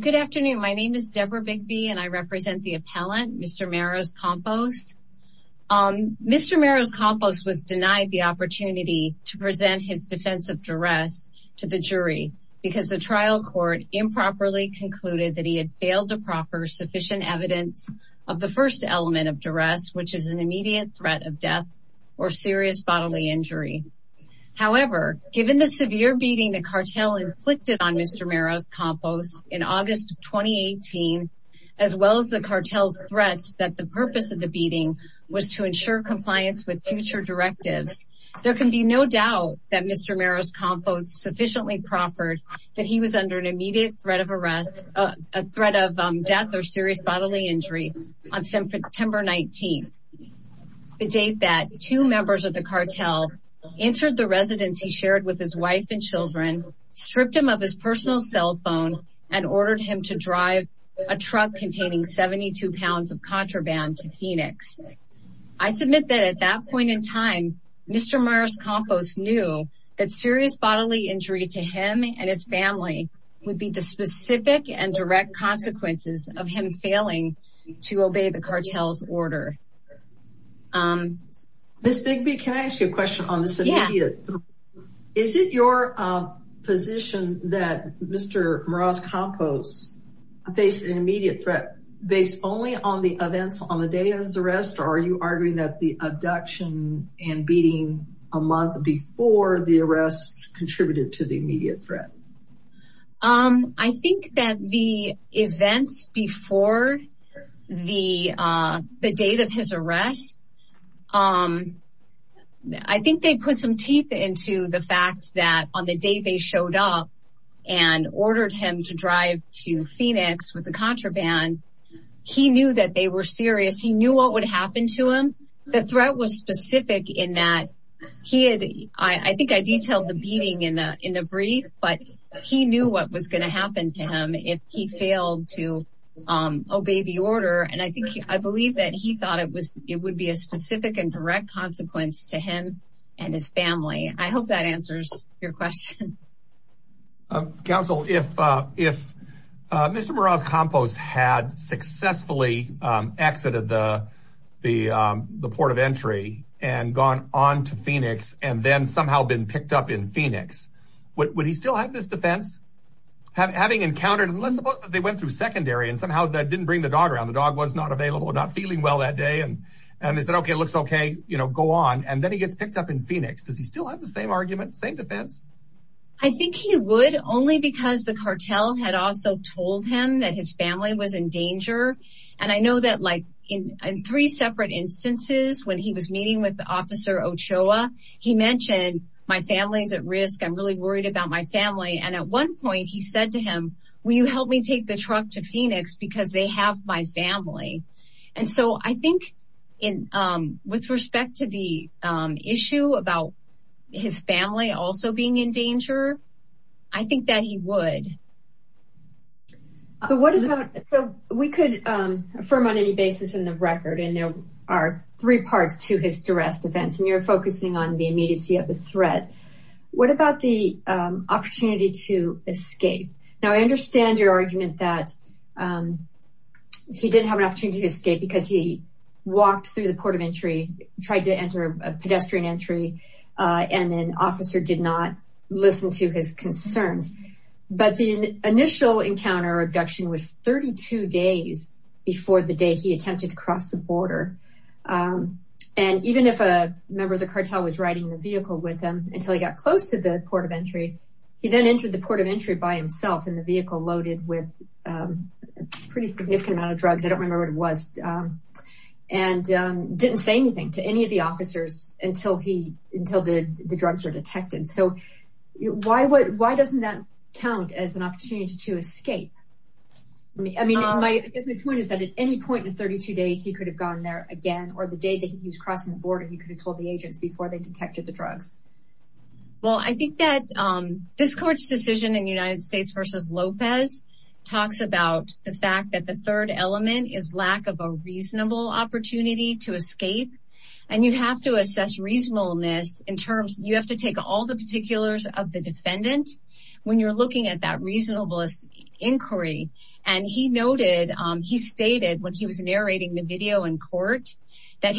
Good afternoon, my name is Deborah Bigby and I represent the appellant, Mr. Meraz-Campos. Mr. Meraz-Campos was denied the opportunity to present his defense of duress to the jury because the trial court improperly concluded that he had failed to proffer sufficient evidence of the first element of duress, which is an immediate threat of death or serious bodily injury. However, given the severe beating the cartel inflicted on Mr. Meraz-Campos in August of 2018, as well as the cartel's threats that the purpose of the beating was to ensure compliance with future directives, there can be no doubt that Mr. Meraz-Campos sufficiently proffered that he was under an immediate threat of death or serious bodily injury on September 19th, the date that two members of the cartel entered the residence he shared with his wife and children, stripped him of his personal cell phone, and ordered him to drive a truck containing 72 pounds of contraband to Phoenix. I submit that at that point in time, Mr. Meraz-Campos knew that serious bodily injury to him and his family would be the specific and direct consequences of him failing to obey the cartel's order. Ms. Bigby, can I ask you a question on this immediate threat? Is it your position that Mr. Meraz-Campos faced an immediate threat based only on the events on the day of his arrest, or are you arguing that the abduction and beating a month before the arrest contributed to the immediate threat? I think that the events before the date of his arrest, I think they put some teeth into the fact that on the day they showed up and ordered him to drive to Phoenix with the contraband, he knew that they were serious, he knew what would happen to him. The threat was specific in that he had, I think I detailed the beating in the brief, but he knew what was going to happen to him if he failed to obey the order, and I believe that he thought it would be a specific and direct consequence to him and his family. I hope that answers your question. Counsel, if Mr. Meraz-Campos had successfully exited the port of entry and gone on to Phoenix, and then somehow been picked up in Phoenix, would he still have this defense? Having encountered, let's suppose that they went through secondary and somehow didn't bring the dog around, the dog was not available, not feeling well that day, and they said, okay, looks okay, go on, and then he gets picked up in Phoenix, does he still have the same argument, same defense? I think he would, only because the cartel had also told him that his family was in danger, and I know that in three separate instances, when he was meeting with Officer Ochoa, he mentioned, my family's at risk, I'm really worried about my family, and at one point he said to him, will you help me take the truck to Phoenix because they have my family. And so I think with respect to the issue about his family also being in danger, I think that he would. So we could affirm on any basis in the record, and there are three parts to his duress defense, and you're focusing on the immediacy of the threat. What about the opportunity to escape? Now I understand your argument that he didn't have an opportunity to escape because he walked through the port of entry, tried to enter a pedestrian entry, and an officer did not listen to his concerns, but the initial encounter or abduction was 32 days before the day he attempted to cross the border, and even if a member of the cartel was riding the vehicle with him until he got close to the port of entry, he then entered the port of entry by himself in the vehicle loaded with a pretty significant amount of drugs, I don't remember what it was, and didn't say anything to any of the officers until the drugs were detected. So why doesn't that count as an opportunity to escape? I guess my point is that at any point in 32 days he could have gone there again, or the day that he was crossing the border he could have told the agents before they detected the drugs. Well I think that this court's decision in United States v. Lopez talks about the fact that the third element is lack of a reasonable opportunity to escape, and you have to assess reasonableness in terms, you have to take all the particulars of the defendant, when you're looking at that reasonableness inquiry, and he noted, he stated when he was narrating the video in court, that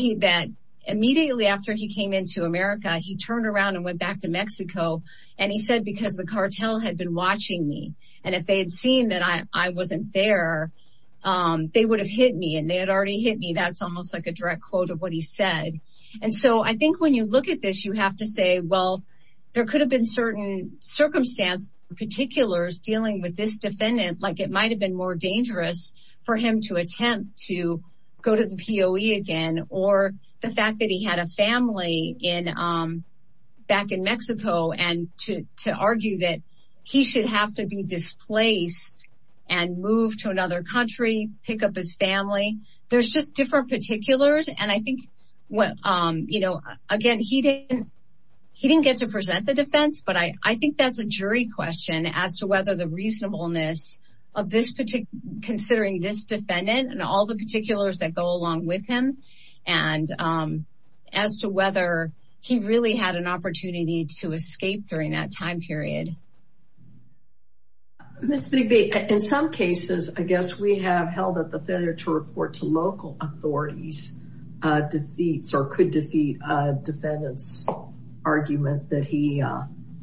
immediately after he came into America he turned around and went back to Mexico, and he said because the cartel had been watching me, and if they had seen that I wasn't there, they would have hit me, and they had already hit me, that's almost like a direct quote of what he said. And so I think when you look at this you have to say, well there could have been certain circumstances, dealing with this defendant, like it might have been more dangerous for him to attempt to go to the POE again, or the fact that he had a family back in Mexico, and to argue that he should have to be displaced, and move to another country, pick up his family, there's just different particulars, and I think, again, he didn't get to present the defense, but I think that's a jury question, as to whether the reasonableness of considering this defendant, and all the particulars that go along with him, and as to whether he really had an opportunity to escape during that time period. Ms. Bigby, in some cases, I guess we have held that the failure to report to local authorities defeats, or could defeat a defendant's argument that he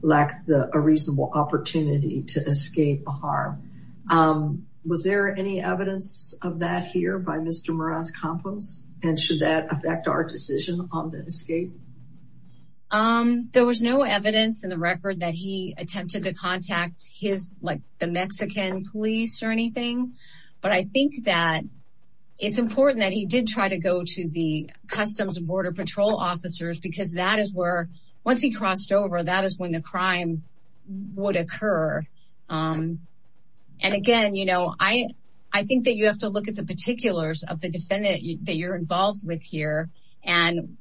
lacked a reasonable opportunity to escape the harm. Was there any evidence of that here by Mr. Morales Campos, and should that affect our decision on the escape? There was no evidence in the record that he attempted to contact the Mexican police or anything, but I think that it's important that he did try to go to the Customs and Border Patrol officers, because that is where, once he crossed over, that is when the crime would occur. And again, I think that you have to look at the particulars of the defendant that you're involved with here, and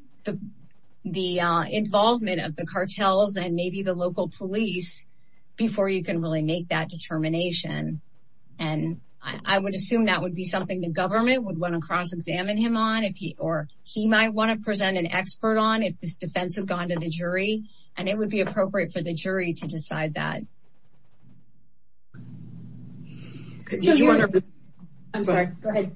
the involvement of the cartels and maybe the local police, before you can really make that determination. And I would assume that would be something the government would want to cross-examine him on, or he might want to present an expert on, if this defense had gone to the jury, and it would be appropriate for the jury to decide that. I'm sorry, go ahead.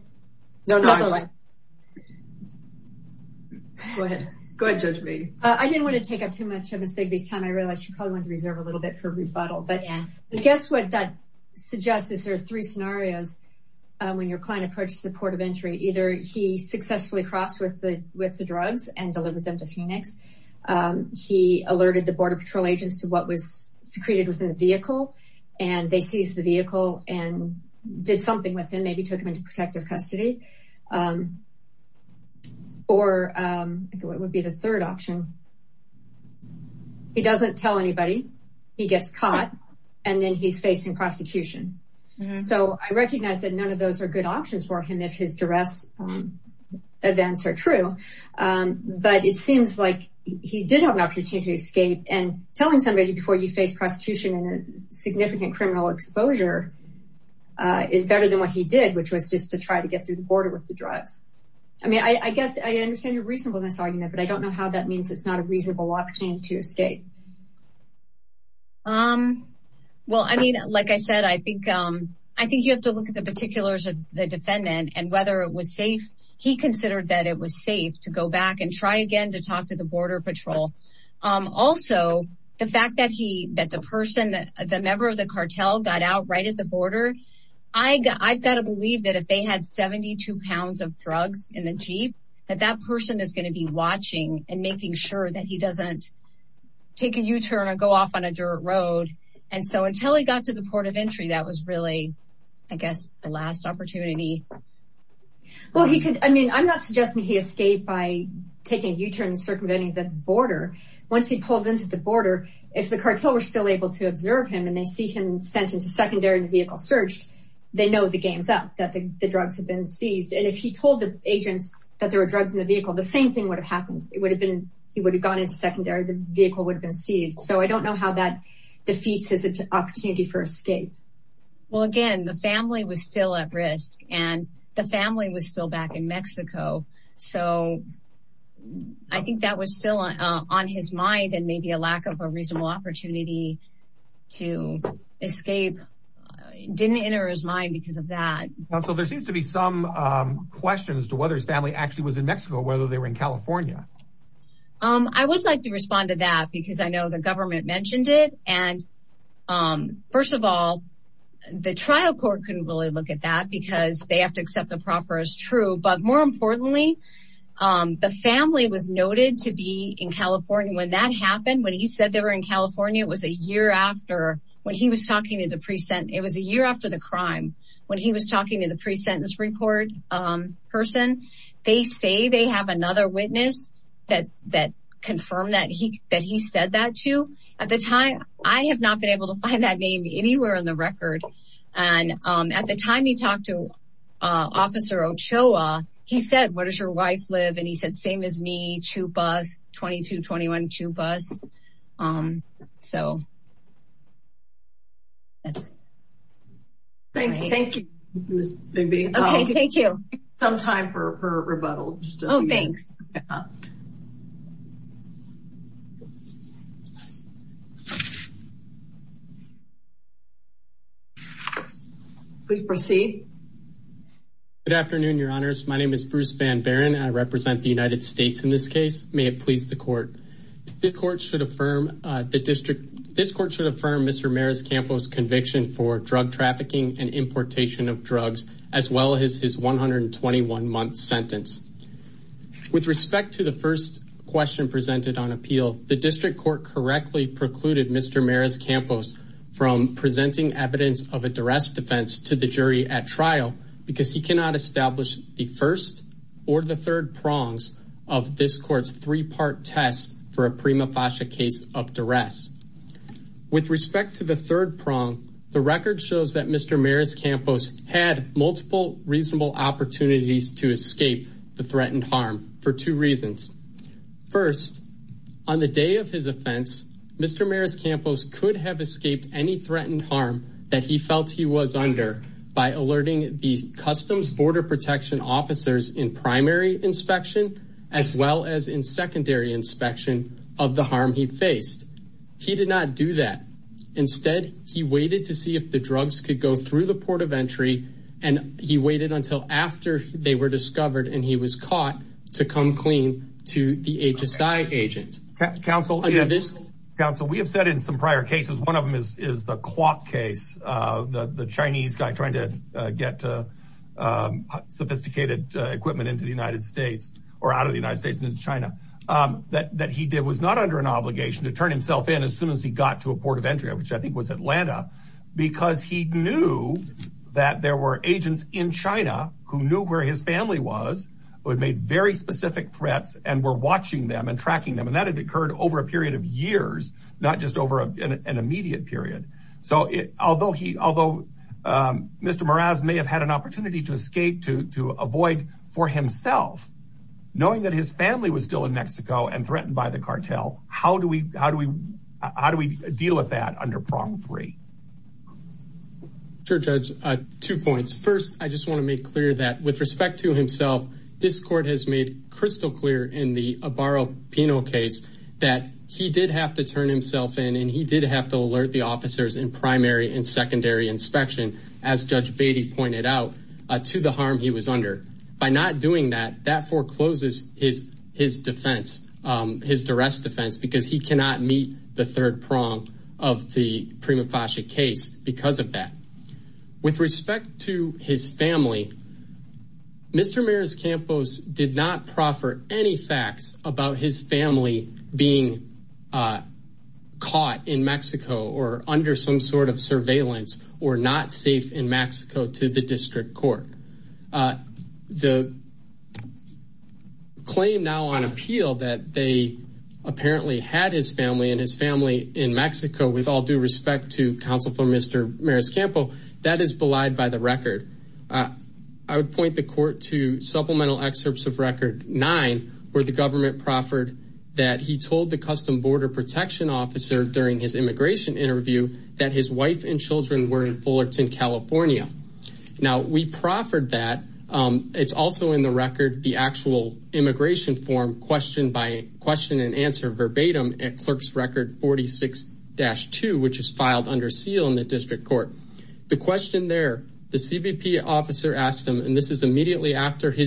Go ahead, Judge Brady. I didn't want to take up too much of Ms. Bigby's time. I realize she probably wanted to reserve a little bit for rebuttal. But guess what that suggests, is there are three scenarios when your client approaches the port of entry. Either he successfully crossed with the drugs and delivered them to Phoenix, he alerted the Border Patrol agents to what was secreted within the vehicle, and they seized the vehicle and did something with him, maybe took him into protective custody. Or what would be the third option? He doesn't tell anybody, he gets caught, and then he's facing prosecution. So I recognize that none of those are good options for him if his duress events are true, but it seems like he did have an opportunity to escape, and telling somebody before you face prosecution and significant criminal exposure is better than what he did, which was just to try to get through the border with the drugs. I mean, I guess I understand your reasonableness argument, but I don't know how that means it's not a reasonable opportunity to escape. Well, I mean, like I said, I think you have to look at the particulars of the defendant and whether it was safe. He considered that it was safe to go back and try again to talk to the Border Patrol. Also, the fact that the member of the cartel got out right at the border, I've got to believe that if they had 72 pounds of drugs in the Jeep, that that person is going to be watching and making sure that he doesn't take a U-turn or go off on a dirt road. And so until he got to the port of entry, that was really, I guess, the last opportunity. Well, I mean, I'm not suggesting he escaped by taking a U-turn and circumventing the border. Once he pulls into the border, if the cartel were still able to observe him and they see him sent into secondary and the vehicle searched, they know the game's up, that the drugs have been seized. And if he told the agents that there were drugs in the vehicle, the same thing would have happened. It would have been, he would have gone into secondary, the vehicle would have been seized. So I don't know how that defeats his opportunity for escape. Well, again, the family was still at risk and the family was still back in Mexico. So I think that was still on his mind. And maybe a lack of a reasonable opportunity to escape didn't enter his mind because of that. So there seems to be some questions to whether his family actually was in Mexico, whether they were in California. I would like to respond to that because I know the government mentioned it. And first of all, the trial court couldn't really look at that because they have to accept the proper as true. But more importantly, the family was noted to be in California. When that happened, when he said they were in California, it was a year after when he was talking to the pre-sentence. It was a year after the crime. When he was talking to the pre-sentence report person, they say they have another witness that confirmed that he said that too. At the time, I have not been able to find that name anywhere on the record. At the time he talked to Officer Ochoa, he said, where does your wife live? And he said, same as me, Chupas, 2221 Chupas. Thank you, Ms. Bigby. Okay, thank you. Some time for rebuttal. Oh, thanks. Please proceed. Good afternoon, Your Honors. My name is Bruce Van Baron. I represent the United States in this case. May it please the court. This court should affirm Mr. Maras-Campos' conviction for drug trafficking and importation of drugs, as well as his 121-month sentence. With respect to the first question presented on appeal, the district court correctly precluded Mr. Maras-Campos from presenting evidence of a duress defense to the jury at trial because he cannot establish the first or the third prongs of this court's three-part test for a prima facie case of duress. With respect to the third prong, the record shows that Mr. Maras-Campos had multiple reasonable opportunities to escape the threatened harm for two reasons. First, on the day of his offense, Mr. Maras-Campos could have escaped any threatened harm that he felt he was under by alerting the Customs Border Protection officers in primary inspection, as well as in secondary inspection, of the harm he faced. He did not do that. Instead, he waited to see if the drugs could go through the port of entry, and he waited until after they were discovered and he was caught to come clean to the HSI agent. Counsel, we have said in some prior cases, one of them is the clock case, the Chinese guy trying to get sophisticated equipment into the United States. Or out of the United States into China. That he did was not under an obligation to turn himself in as soon as he got to a port of entry, which I think was Atlanta, because he knew that there were agents in China who knew where his family was, who had made very specific threats and were watching them and tracking them. And that had occurred over a period of years, not just over an immediate period. So although he, although Mr. Maras may have had an opportunity to escape, to avoid for himself, knowing that his family was still in Mexico and threatened by the cartel, how do we, how do we, how do we deal with that under prong three? Sure, Judge, two points. First, I just want to make clear that with respect to himself, this court has made crystal clear in the Abaro penal case that he did have to turn himself in. And he did have to alert the officers in primary and secondary inspection, as Judge Beatty pointed out, to the harm he was under. By not doing that, that forecloses his, his defense, his duress defense, because he cannot meet the third prong of the prima facie case because of that. With respect to his family, Mr. Maras Campos did not proffer any facts about his family being caught in Mexico or under some sort of surveillance or not safe in Mexico to the district court. The claim now on appeal that they apparently had his family and his family in Mexico with all due respect to counsel for Mr. Maras Campos, that is belied by the record. I would point the court to supplemental excerpts of record nine where the government proffered that he told the custom border protection officer during his immigration interview that his wife and children were in Fullerton, California. Now we proffered that. It's also in the record, the actual immigration form questioned by question and answer verbatim at clerk's record 46-2, which is filed under seal in the district court. The question there, the CBP officer asked him, and this is immediately after he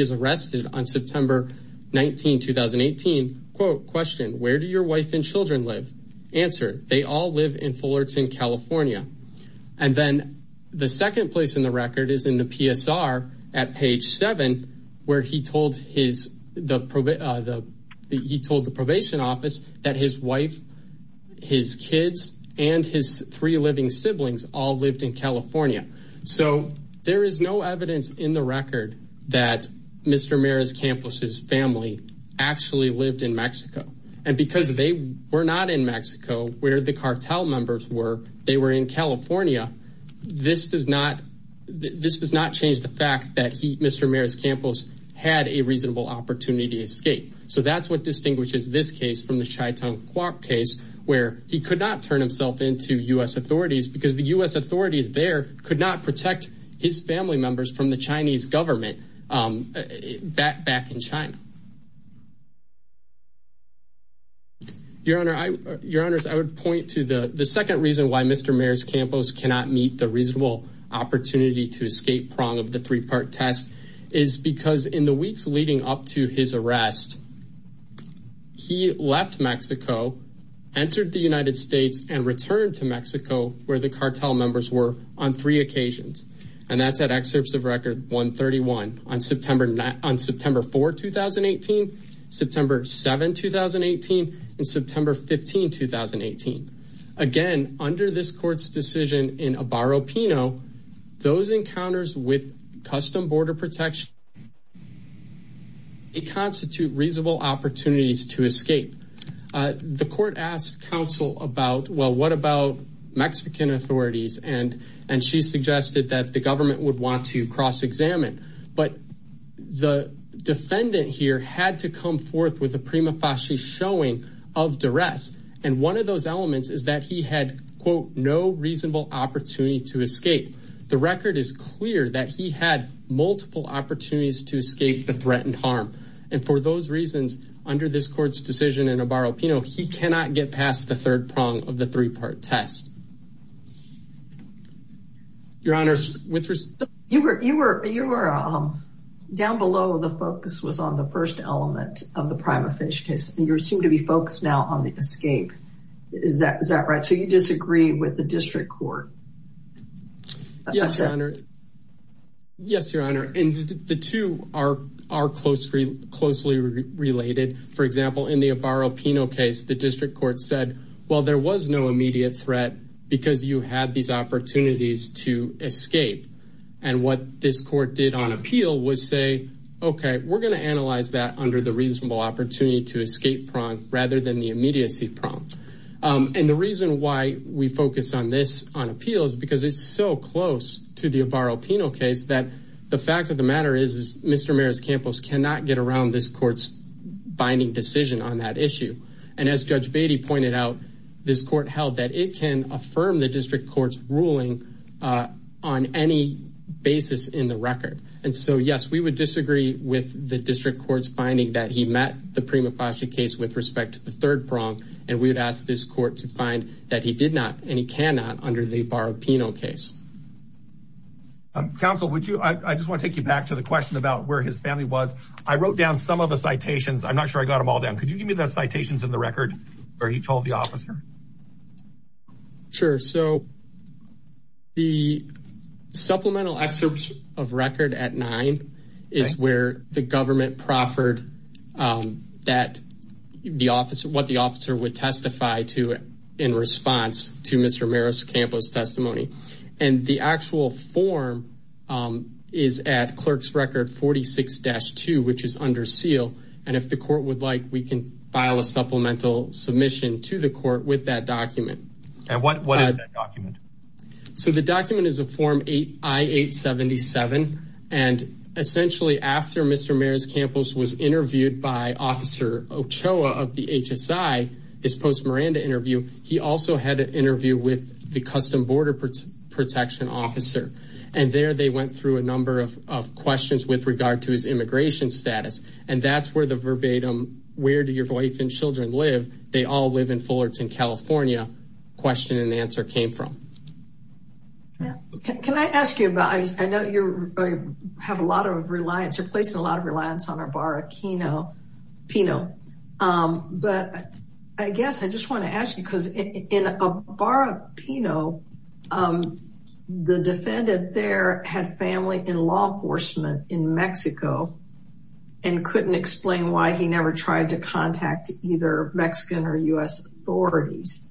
is arrested on September 19, 2018, quote, question, where do your wife and children live? Answer, they all live in Fullerton, California. And then the second place in the record is in the PSR at page seven, where he told his the the he told the probation office that his wife, his kids and his three living siblings all lived in California. So there is no evidence in the record that Mr. Maris Campos's family actually lived in Mexico. And because they were not in Mexico where the cartel members were, they were in California. This does not this does not change the fact that he Mr. Maris Campos had a reasonable opportunity to escape. So that's what distinguishes this case from the Chaitung case, where he could not turn himself into U.S. authorities because the U.S. authorities there could not protect his family members from the Chinese government back in China. Your Honor, I your honors, I would point to the second reason why Mr. Maris Campos cannot meet the reasonable opportunity to escape prong of the three part test is because in the weeks leading up to his arrest, he left Mexico, entered the United States and returned to Mexico where the cartel members were on three occasions. And that's that excerpts of record 131 on September 9, on September 4, 2018, September 7, 2018 and September 15, 2018. Again, under this court's decision in a barro Pino, those encounters with custom border protection. It constitute reasonable opportunities to escape. The court asked counsel about, well, what about Mexican authorities? And and she suggested that the government would want to cross examine. But the defendant here had to come forth with a prima facie showing of duress. And one of those elements is that he had, quote, no reasonable opportunity to escape. The record is clear that he had multiple opportunities to escape the threatened harm. And for those reasons, under this court's decision in a barro Pino, he cannot get past the third prong of the three part test. Your Honor, you were you were you were down below. The focus was on the first element of the prima facie case. You seem to be focused now on the escape. Is that is that right? So you disagree with the district court? Yes, Your Honor. Yes, Your Honor. And the two are are closely, closely related. For example, in the barro Pino case, the district court said, well, there was no immediate threat because you had these opportunities to escape. And what this court did on appeal was say, OK, we're going to analyze that under the reasonable opportunity to escape from rather than the immediacy prompt. And the reason why we focus on this on appeal is because it's so close to the barro Pino case that the fact of the matter is, Mr. Maris Campos cannot get around this court's binding decision on that issue. And as Judge Beatty pointed out, this court held that it can affirm the district court's ruling on any basis in the record. And so, yes, we would disagree with the district court's finding that he met the prima facie case with respect to the third prong. And we would ask this court to find that he did not and he cannot under the barro Pino case. Counsel, would you I just want to take you back to the question about where his family was. I wrote down some of the citations. I'm not sure I got them all down. Could you give me the citations in the record where he told the officer? Sure. So. The supplemental excerpts of record at nine is where the government proffered that the office of what the officer would testify to in response to Mr. submission to the court with that document. And what what is that document? So the document is a form eight I eight seventy seven. And essentially, after Mr. Maris Campos was interviewed by Officer Ochoa of the HSI, this post Miranda interview, he also had an interview with the custom border protection officer. And there they went through a number of questions with regard to his immigration status. And that's where the verbatim where do your wife and children live? They all live in Fullerton, California. Question and answer came from. Can I ask you about I know you have a lot of reliance, a place, a lot of reliance on our barro Pino. But I guess I just want to ask you, because in a barro Pino, the defendant there had family in law enforcement in Mexico. And couldn't explain why he never tried to contact either Mexican or U.S. authorities.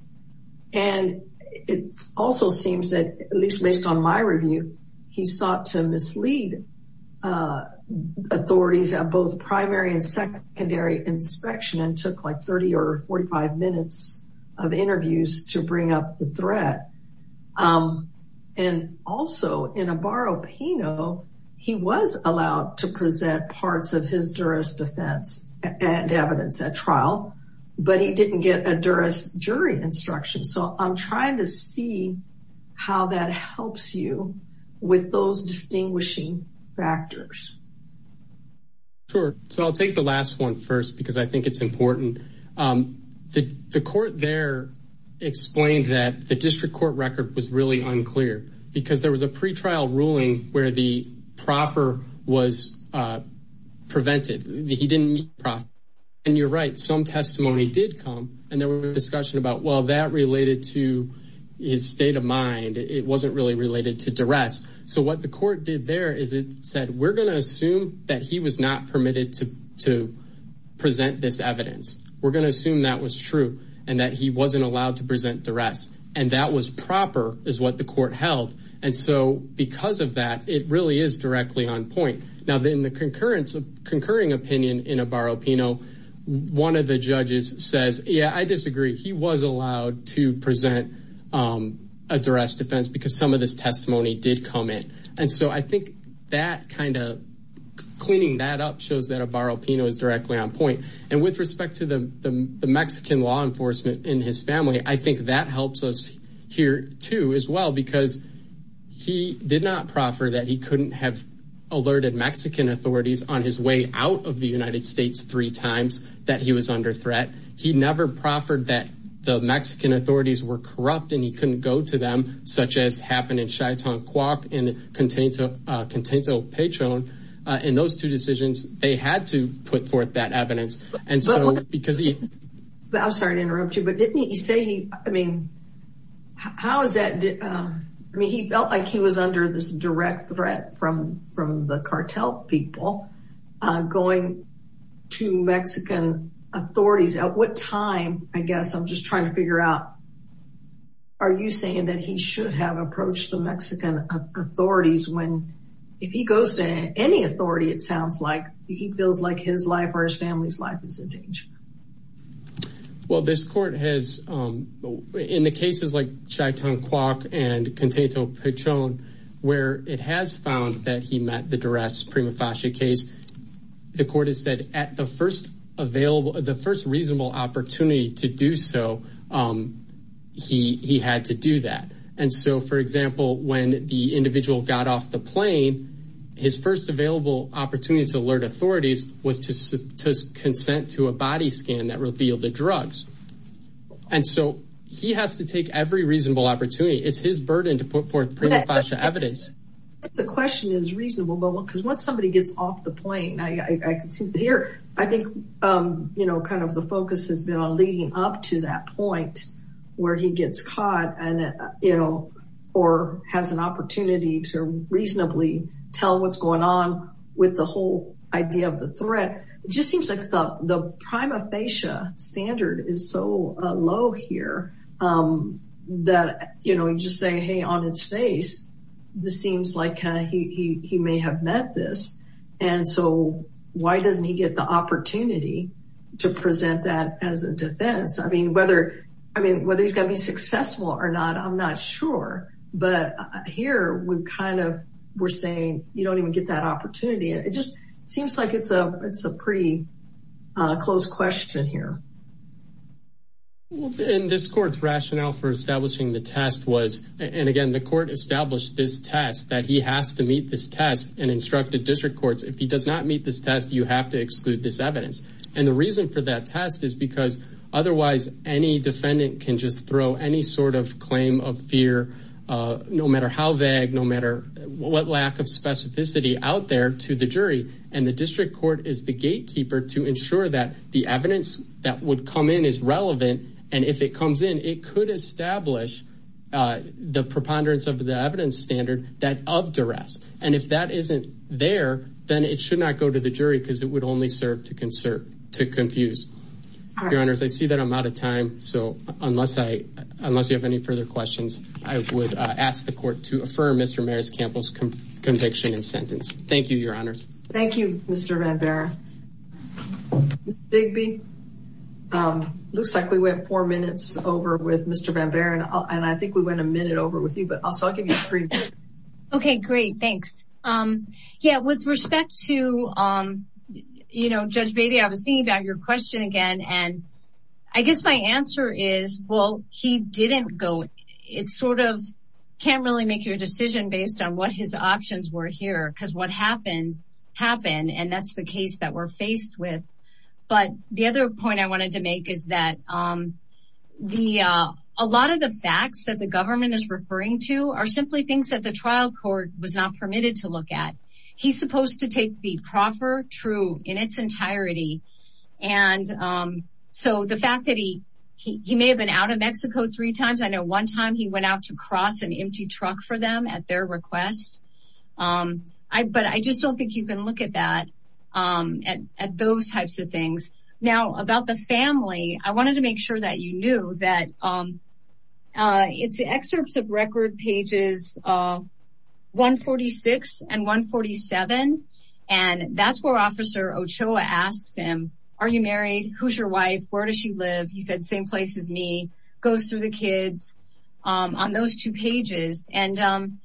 And it also seems that at least based on my review, he sought to mislead authorities at both primary and secondary inspection and took like 30 or 45 minutes of interviews to bring up the threat. And also in a barro Pino, he was allowed to present parts of his jurist defense and evidence at trial, but he didn't get a jurist jury instruction. So I'm trying to see how that helps you with those distinguishing factors. Sure. So I'll take the last one first, because I think it's important. The court there explained that the district court record was really unclear because there was a pretrial ruling where the proffer was prevented. He didn't profit. And you're right. Some testimony did come and there was a discussion about, well, that related to his state of mind. It wasn't really related to duress. So what the court did there is it said, we're going to assume that he was not permitted to present this evidence. We're going to assume that was true and that he wasn't allowed to present duress. And that was proper is what the court held. And so because of that, it really is directly on point. Now, then the concurrence of concurring opinion in a bar, you know, one of the judges says, yeah, I disagree. He was allowed to present a duress defense because some of this testimony did come in. And so I think that kind of cleaning that up shows that a bar up is directly on point. And with respect to the Mexican law enforcement in his family, I think that helps us here, too, as well, because he did not proffer that. He couldn't have alerted Mexican authorities on his way out of the United States three times that he was under threat. He never proffered that the Mexican authorities were corrupt and he couldn't go to them, such as happened in Chaitan Coop and Contento Patron. And those two decisions, they had to put forth that evidence. I'm sorry to interrupt you, but didn't you say, I mean, how is that? I mean, he felt like he was under this direct threat from from the cartel people going to Mexican authorities. At what time? I guess I'm just trying to figure out. Are you saying that he should have approached the Mexican authorities when if he goes to any authority? It sounds like he feels like his life or his family's life is in danger. Well, this court has in the cases like Chaitan Coop and Contento Patron, where it has found that he met the duress prima facie case. The court has said at the first available, the first reasonable opportunity to do so, he he had to do that. And so, for example, when the individual got off the plane, his first available opportunity to alert authorities was to consent to a body scan that revealed the drugs. And so he has to take every reasonable opportunity. It's his burden to put forth evidence. The question is reasonable, because once somebody gets off the plane, I can see here. I think, you know, kind of the focus has been on leading up to that point where he gets caught and, you know, or has an opportunity to reasonably tell what's going on with the whole idea of the threat. It just seems like the prima facie standard is so low here that, you know, just saying, hey, on its face, this seems like he may have met this. And so why doesn't he get the opportunity to present that as a defense? I mean, whether I mean, whether he's going to be successful or not, I'm not sure. But here we kind of we're saying you don't even get that opportunity. It just seems like it's a it's a pretty close question here. In this court's rationale for establishing the test was and again, the court established this test that he has to meet this test and instructed district courts. If he does not meet this test, you have to exclude this evidence. And the reason for that test is because otherwise any defendant can just throw any sort of claim of fear, no matter how vague, no matter what lack of specificity out there to the jury. And the district court is the gatekeeper to ensure that the evidence that would come in is relevant. And if it comes in, it could establish the preponderance of the evidence standard that of duress. And if that isn't there, then it should not go to the jury because it would only serve to conserve to confuse your honors. I see that I'm out of time. So unless I unless you have any further questions, I would ask the court to affirm Mr. Maris Campbell's conviction and sentence. Thank you, your honors. Thank you, Mr. Van Buren. Bigby looks like we went four minutes over with Mr. Van Buren. And I think we went a minute over with you, but I'll give you three. OK, great. Thanks. Yeah. With respect to, you know, Judge Beatty, I was thinking about your question again. And I guess my answer is, well, he didn't go. It's sort of can't really make your decision based on what his options were here because what happened happened. And that's the case that we're faced with. But the other point I wanted to make is that the a lot of the facts that the government is referring to are simply things that the trial court was not permitted to look at. He's supposed to take the proffer true in its entirety. And so the fact that he he may have been out of Mexico three times. I know one time he went out to cross an empty truck for them at their request. But I just don't think you can look at that at those types of things. Now, about the family, I wanted to make sure that you knew that it's excerpts of record pages 146 and 147. And that's where Officer Ochoa asks him, are you married? Who's your wife? Where does she live? He said, same place as me goes through the kids on those two pages. And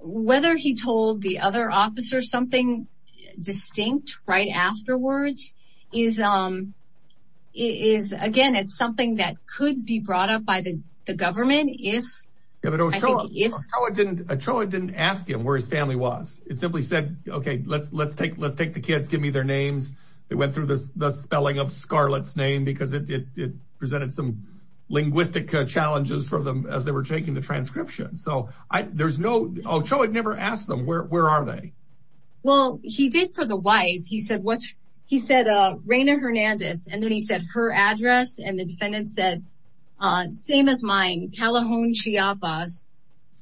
whether he told the other officer something distinct right afterwards is is, again, it's something that could be brought up by the government if it didn't. And Ochoa didn't ask him where his family was. It simply said, OK, let's let's take let's take the kids. Give me their names. They went through the spelling of Scarlett's name because it presented some linguistic challenges for them as they were taking the transcription. So there's no Ochoa never asked them. Where are they? Well, he did for the wife. He said what he said. And then he said her address. And the defendant said, same as mine, Calahoun, Chiapas.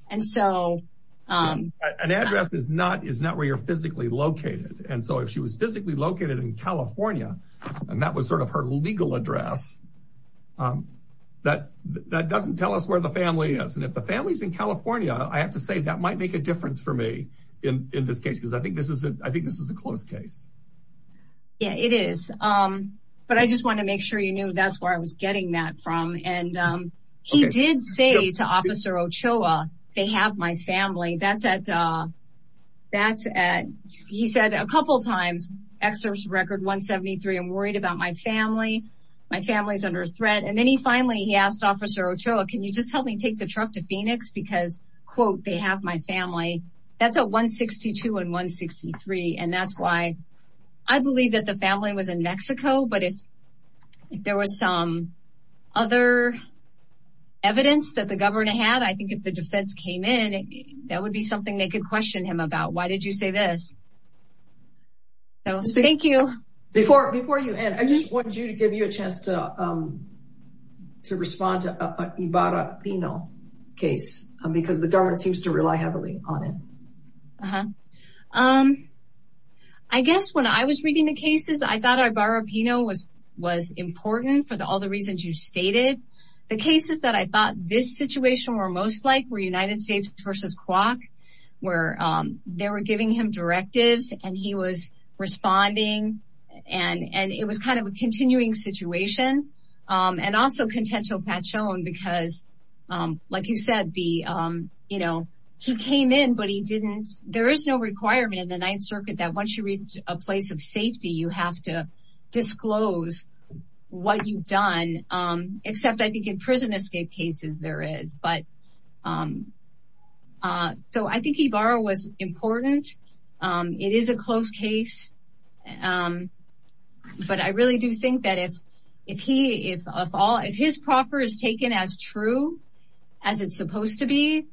And so an address is not is not where you're physically located. And so if she was physically located in California and that was sort of her legal address, that that doesn't tell us where the family is. And if the family's in California, I have to say that might make a difference for me in this case, because I think this is I think this is a close case. Yeah, it is. But I just want to make sure you knew that's where I was getting that from. And he did say to Officer Ochoa, they have my family. That's at that's at. He said a couple of times. Excerpt record 173. I'm worried about my family. My family is under threat. And then he finally he asked Officer Ochoa, can you just help me take the truck to Phoenix? Because, quote, they have my family. That's a 162 and 163. And that's why I believe that the family was in Mexico. But if there was some other evidence that the governor had, I think if the defense came in, that would be something they could question him about. Why did you say this? Thank you. Before before you end, I just wanted you to give you a chance to to respond to Ibarra Pino case because the government seems to rely heavily on it. Uh huh. I guess when I was reading the cases, I thought Ibarra Pino was was important for all the reasons you stated. The cases that I thought this situation were most like were United States versus Quok, where they were giving him directives and he was responding. And and it was kind of a continuing situation. And also contentional patch on because, like you said, the you know, he came in, but he didn't. There is no requirement in the Ninth Circuit that once you reach a place of safety, you have to disclose what you've done, except I think in prison escape cases there is. But so I think Ibarra was important. It is a close case, but I really do think that if if he if if his proper is taken as true as it's supposed to be,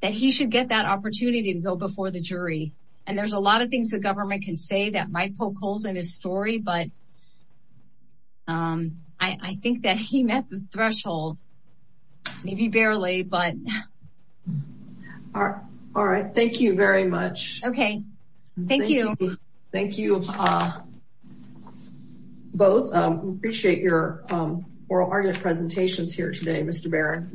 that he should get that opportunity to go before the jury. And there's a lot of things the government can say that might poke holes in his story. But. I think that he met the threshold. Maybe barely, but. All right. All right. Thank you very much. OK, thank you. Thank you. Both appreciate your oral argument presentations here today. Mr. Barron.